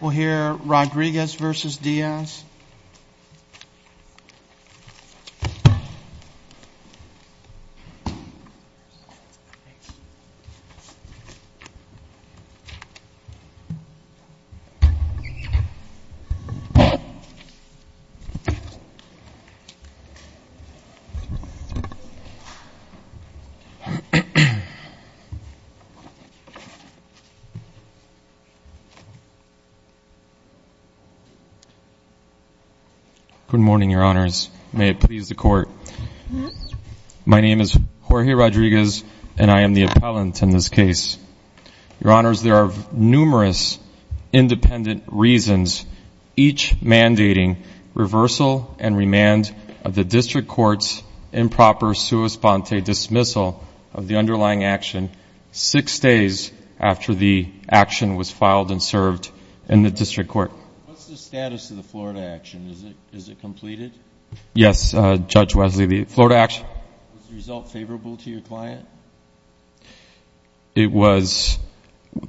We'll hear Rodriguez versus Diaz Good morning, your honors. May it please the court. My name is Jorge Rodriguez and I am the appellant in this case. Your honors, there are numerous independent reasons, each mandating reversal and remand of the district court's improper sua sponte dismissal of the underlying action six days after the action was filed and served in the district court. What's the status of the Florida action? Is it completed? Yes, Judge Wesley, the Florida action. Was the result favorable to your client? It was.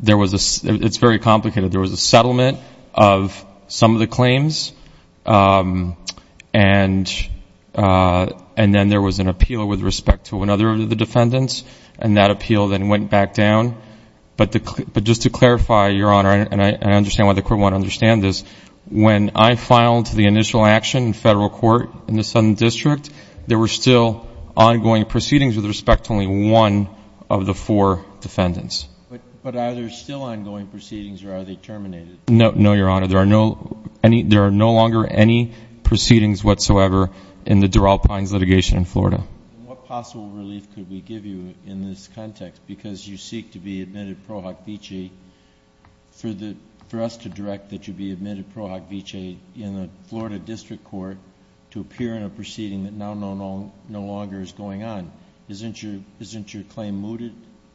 It's very complicated. There was a settlement of some of the claims, and then there was an appeal with respect to another of the defendants, and that appeal then went back down. But just to clarify, your honor, and I understand why the court won't understand this, when I filed the initial action in federal court in the Southern District, there were still ongoing proceedings with respect to only one of the four defendants. But are there still ongoing proceedings or are they terminated? No, your honor. There are no longer any proceedings whatsoever in the Durrell Pines litigation in Florida. What possible relief could we give you in this context, because you seek to be admitted pro hoc vici, for us to direct that you be admitted pro hoc vici in the Florida District Court to appear in a proceeding that now no longer is going on. Isn't your claim mooted?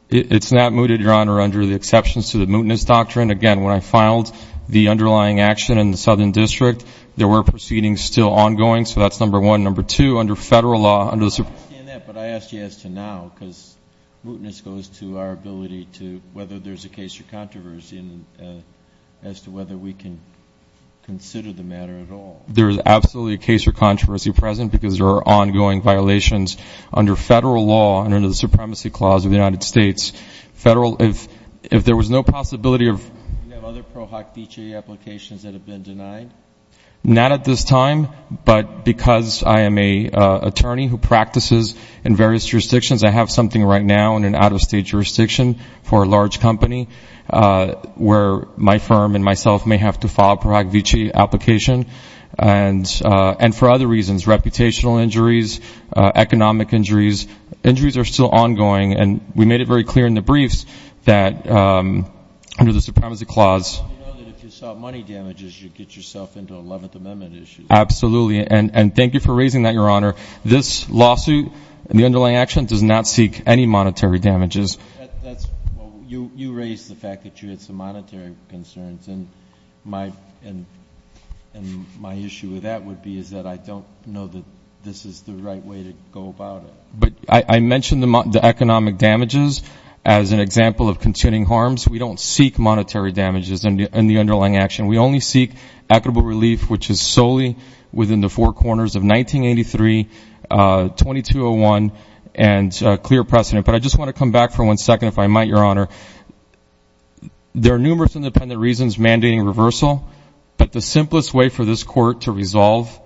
It's not mooted, your honor, under the exceptions to the mootness doctrine. Again, when I filed the underlying action in the Southern District, there were proceedings still ongoing, so that's number one. Number two, under federal law, under the I understand that, but I asked you as to now, because mootness goes to our ability to, whether there's a case or controversy as to whether we can consider the matter at all. There is absolutely a case or controversy present because there are ongoing violations. Under federal law, under the Supremacy Clause of the United States, federal, if there was no possibility of... Do you have other pro hoc vici applications that have been denied? Not at this time, but because I am an attorney who practices in various jurisdictions, I have something right now in an out-of-state jurisdiction for a large company where my firm and myself may have to file a pro hoc vici application, and for other reasons, reputational injuries, economic injuries. Injuries are still ongoing, and we made it very clear in the briefs that under the Supremacy Clause... Well, you know that if you solve money damages, you get yourself into 11th Amendment issues. Absolutely, and thank you for raising that, your honor. This lawsuit, the underlying action, does not seek any monetary damages. You raised the fact that you had some monetary concerns, and my issue with that would be is that I don't know that this is the right way to go about it. But I mentioned the economic damages as an example of continuing harms. We don't seek monetary damages in the underlying action. We only seek equitable relief, which is solely within the four corners of 1983, 2201, and clear precedent. But I just want to come back for one second, if I might, your honor. There are numerous independent reasons mandating reversal, but the simplest way for this court to resolve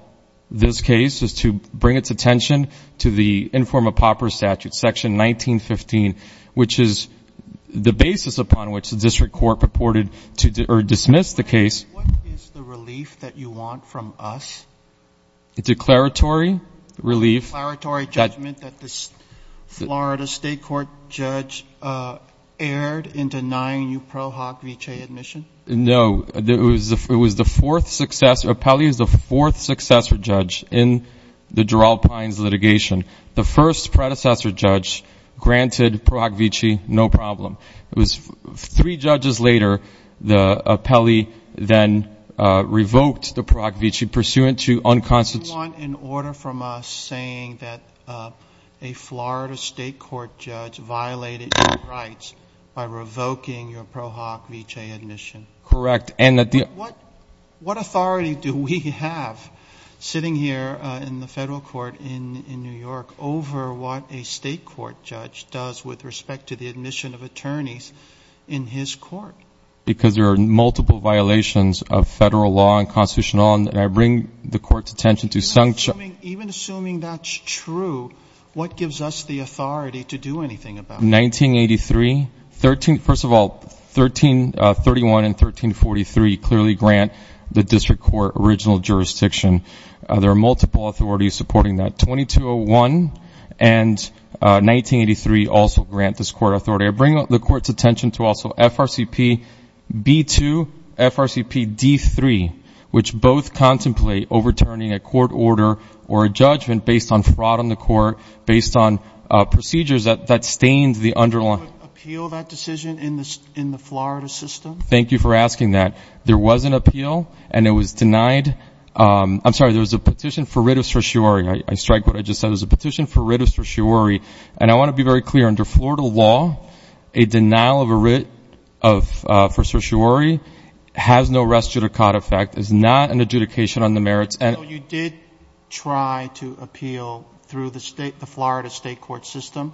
this case is to bring its attention to the Informa Papra statute, section 1915, which is the basis upon which the district court purported to dismiss the case. What is the relief that you want from us? A declaratory relief. A declaratory judgment that the Florida State Court judge erred in denying you Pro Hoc Vitae admission? No. It was the fourth successor. Appellee is the fourth successor judge in the Gerald Pines litigation. The first predecessor judge granted Pro Hoc Vitae, no problem. It was three judges later, the appellee then revoked the Pro Hoc Vitae pursuant to unconstitutional... What do you want in order from us saying that a Florida State Court judge violated your rights by revoking your Pro Hoc Vitae admission? Correct. What authority do we have sitting here in the federal court in New York over what a state court judge does with respect to the admission of attorneys in his court? Because there are multiple violations of federal law and constitutional law, and I bring the court's attention to... Even assuming that's true, what gives us the authority to do anything about it? 1983. First of all, 1331 and 1343 clearly grant the district court original jurisdiction. There are multiple authorities supporting that. 2201 and 1983 also grant this court authority. I bring the court's attention to also FRCP B2, FRCP D3, which both contemplate overturning a court order or a judgment based on fraud on the court, based on procedures that stained the underlying... Did you appeal that decision in the Florida system? Thank you for asking that. There was an appeal, and it was denied... I'm sorry, there was a petition for writ of certiorari. I strike what I just said. It was a petition for writ of certiorari, and I want to be very clear. Under Florida law, a denial of a writ for certiorari has no res judicata effect. It's not an adjudication on the merits. You did try to appeal through the Florida state court system,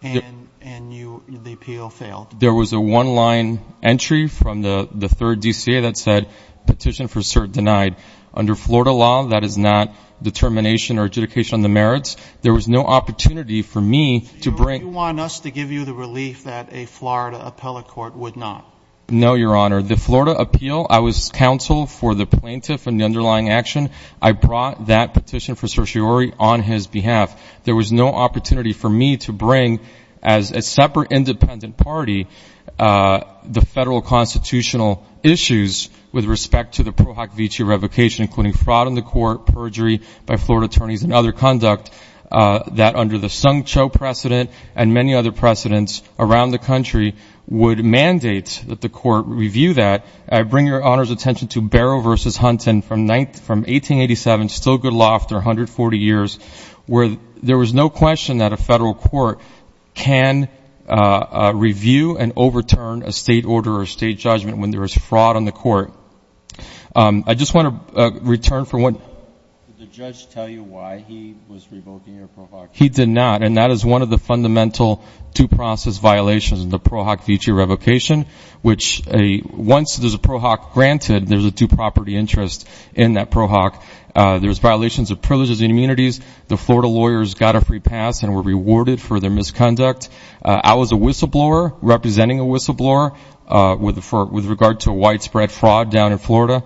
and the appeal failed. There was a one-line entry from the third DCA that said, petition for cert denied. Under Florida law, that is not determination or adjudication on the merits. There was no opportunity for me to bring... Do you want us to give you the relief that a Florida appellate court would not? No, your honor. The Florida appeal, I was counsel for the plaintiff and the underlying action. I brought that petition for certiorari on his behalf. There was no opportunity for me to bring as a separate independent party the federal constitutional issues with respect to the Florida attorneys and other conduct that under the Sung Cho precedent and many other precedents around the country would mandate that the court review that. I bring your honor's attention to Barrow v. Hunton from 1887, still good law after 140 years, where there was no question that a federal court can review and overturn a state order or a state judgment when there was fraud on the court. I just want to return for one... Did the judge tell you why he was revoking your pro hoc? He did not, and that is one of the fundamental two-process violations in the pro hoc vici revocation, which once there's a pro hoc granted, there's a two-property interest in that pro hoc. There's violations of privileges and immunities. The Florida lawyers got a free pass and were rewarded for their misconduct. I was a whistleblower representing a whistleblower with regard to widespread fraud down in Florida,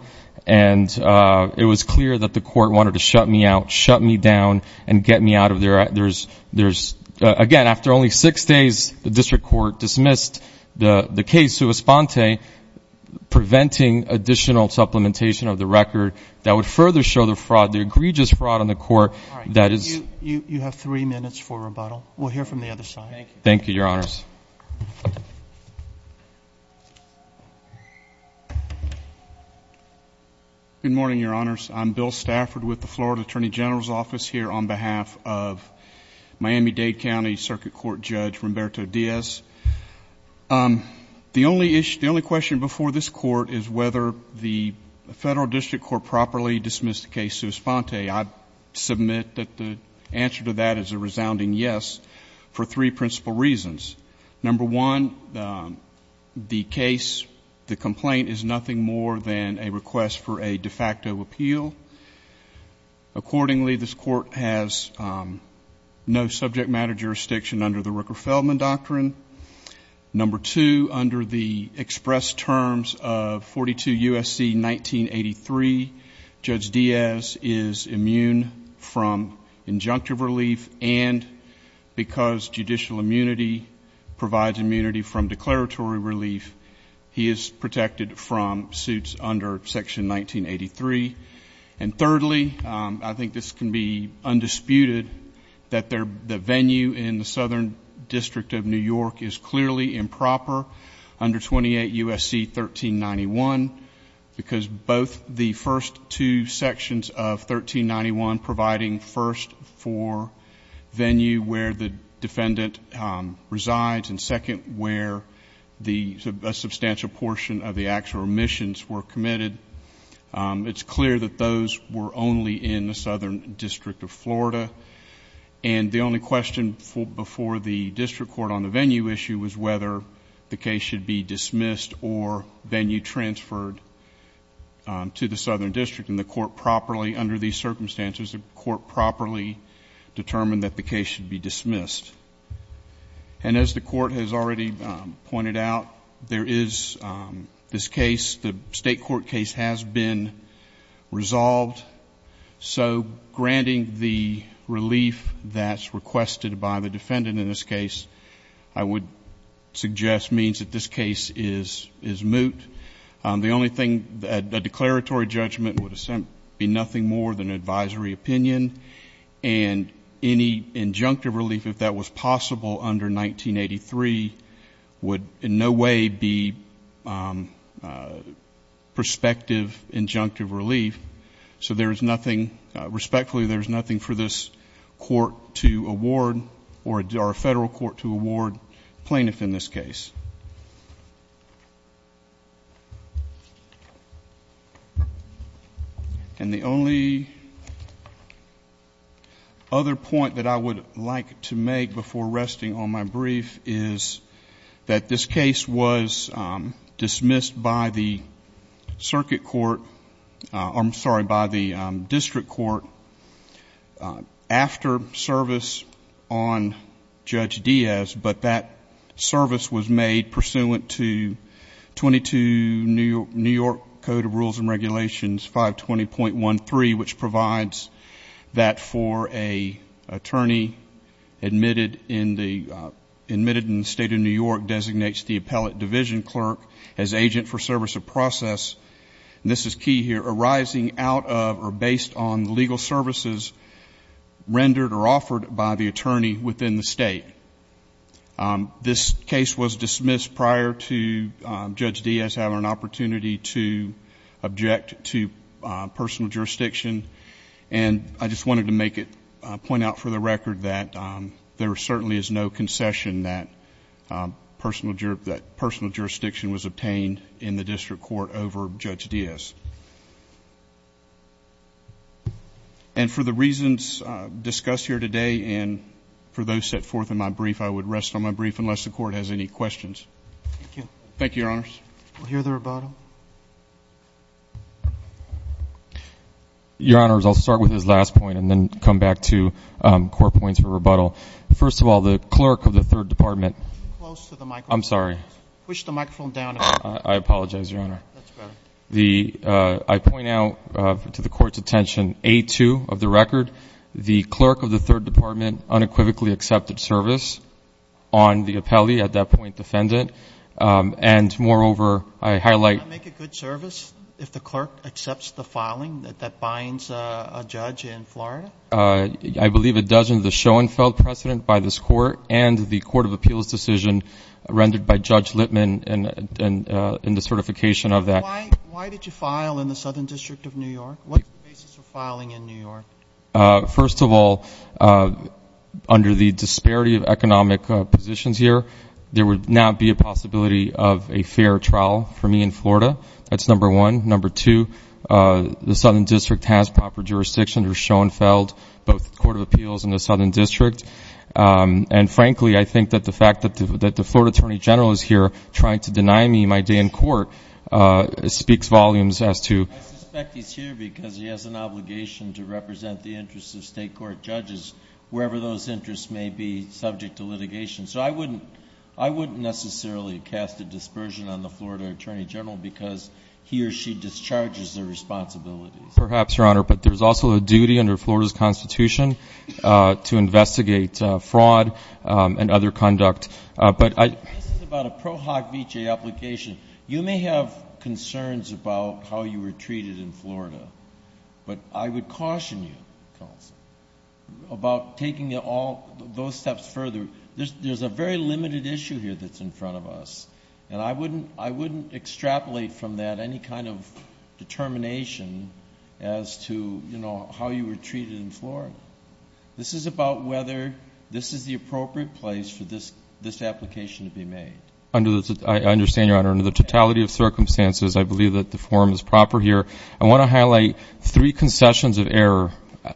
and it was clear that the court wanted to shut me out, shut me down, and get me out of there. There's, again, after only six days, the district court dismissed the case to Esponte, preventing additional supplementation of the record that would further show the fraud, the egregious fraud on the court that is... You have three minutes for rebuttal. We'll hear from the other side. Thank you, your honors. Good morning, your honors. I'm Bill Stafford with the Florida Attorney General's Office here on behalf of Miami-Dade County Circuit Court Judge Roberto Diaz. The only issue, the only question before this court is whether the federal district court properly dismissed the case to Esponte. I submit that the answer to that is a resounding yes for three principal reasons. Number one, the case, the complaint is nothing more than a request for a de facto appeal. Accordingly, this court has no subject matter jurisdiction under the Rooker-Feldman Doctrine. Number two, under the expressed terms of 42 U.S.C. 1983, Judge Diaz is immune from declaratory relief. He is protected from suits under Section 1983. Thirdly, I think this can be undisputed that the venue in the Southern District of New York is clearly improper under 28 U.S.C. 1391 because both the first two sections of 1391 providing first for venue where the defendant resides and second where a substantial portion of the actual omissions were committed. It's clear that those were only in the Southern District of Florida. The only question before the district court on the venue issue was whether the case should be dismissed or venue transferred to the Southern District. Under these circumstances, the court properly determined that the case should be dismissed. And as the court has already pointed out, there is this case, the state court case has been resolved. So granting the relief that's requested by the defendant in this case, I would suggest means that this case is moot. The only declaratory judgment would be nothing more than advisory opinion. And any injunctive relief, if that was possible under 1983, would in no way be prospective injunctive relief. So respectfully, there's nothing for this court to award or a federal court to award plaintiff in this case. And the only other point that I would like to make before resting on my brief is that this case was dismissed by the circuit court, I'm sorry, by the district court after service on Judge Diaz. But that service was made pursuant to 22 New York Code of Rules and Regulations 520.13, which provides that for an attorney admitted in the state of New York designates the appellate division clerk as agent for service of process. And this is key here, arising out of or based on the state. This case was dismissed prior to Judge Diaz having an opportunity to object to personal jurisdiction. And I just wanted to make it, point out for the record that there certainly is no concession that personal jurisdiction was obtained in the district court over Judge Diaz. And for the reasons discussed here today, and for those set forth in my brief, I would rest on my brief unless the court has any questions. Thank you, your honors. We'll hear the rebuttal. Your honors, I'll start with his last point and then come back to court points for rebuttal. First of all, the clerk of the third department. Get close to the microphone. I'm sorry. Push the microphone down. I apologize, your honor. That's better. The, I point out to the court's attention, A2 of the record, the clerk of the third department unequivocally accepted service on the appellee at that point defendant. And moreover, I highlight. Does that make a good service if the clerk accepts the filing that binds a judge in Florida? I believe it does in the Schoenfeld precedent by this court and the court of appeals decision rendered by Judge Littman in the certification of that. Why did you file in the Southern district of New York? What's the basis for filing in New York? First of all, under the disparity of economic positions here, there would not be a possibility of a fair trial for me in Florida. That's number one. Number two, the Southern district has proper jurisdiction under Schoenfeld, both the court of appeals and the Southern district. And frankly, I think that the fact that the Florida attorney general is here trying to deny me my day in court, uh, speaks volumes as to. I suspect he's here because he has an obligation to represent the interests of state court judges, wherever those interests may be subject to litigation. So I wouldn't, I wouldn't necessarily cast a dispersion on the Florida attorney general because he or she discharges their responsibilities. Perhaps your honor, but there's also a duty under Florida's constitution, uh, to investigate, uh, fraud, um, and other conduct. But I, this is about a pro hoc VJ application. You may have concerns about how you were treated in Florida, but I would caution you about taking it all those steps further. There's a very limited issue here that's in front of us. And I wouldn't, I wouldn't extrapolate from that any kind of determination as to, you know, how you were treated in Florida. This is about whether this is the appropriate place for this, this application to be made. Under this, I understand your honor, under the totality of circumstances, I believe that the form is proper here. I want to highlight three concessions of error.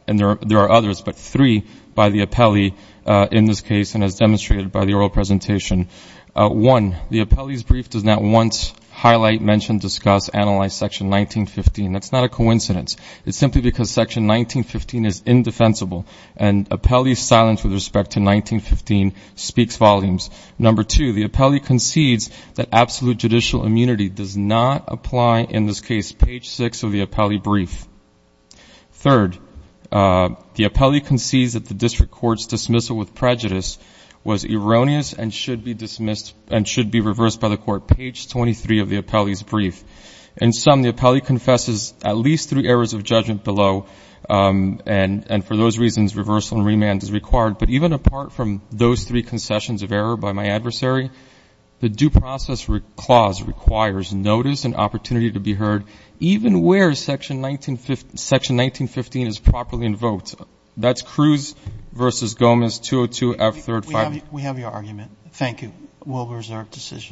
And there are, there are others, but three by the appellee, uh, in this case, and as demonstrated by the oral presentation, uh, one, the appellee's brief does not once highlight, mention, discuss, analyze section 1915. That's not a coincidence. It's simply because section 1915 is indefensible and appellee's silence with respect to 1915 speaks volumes. Number two, the appellee concedes that absolute judicial immunity does not apply in this case, page six of the appellee brief. Third, uh, the appellee concedes that the district court's dismissal with prejudice was erroneous and should be dismissed and should be reversed by the court, page 23 of the appellee's brief. And some, the appellee confesses at least three errors of judgment below. Um, and, and for those reasons, reversal and remand is required. But even apart from those three concessions of error by my adversary, the due process clause requires notice and opportunity to be heard, even where section 1915, section 1915 is properly invoked. That's Cruz versus Gomez, 202-F-35. We have your argument. Thank you. We'll reserve decision.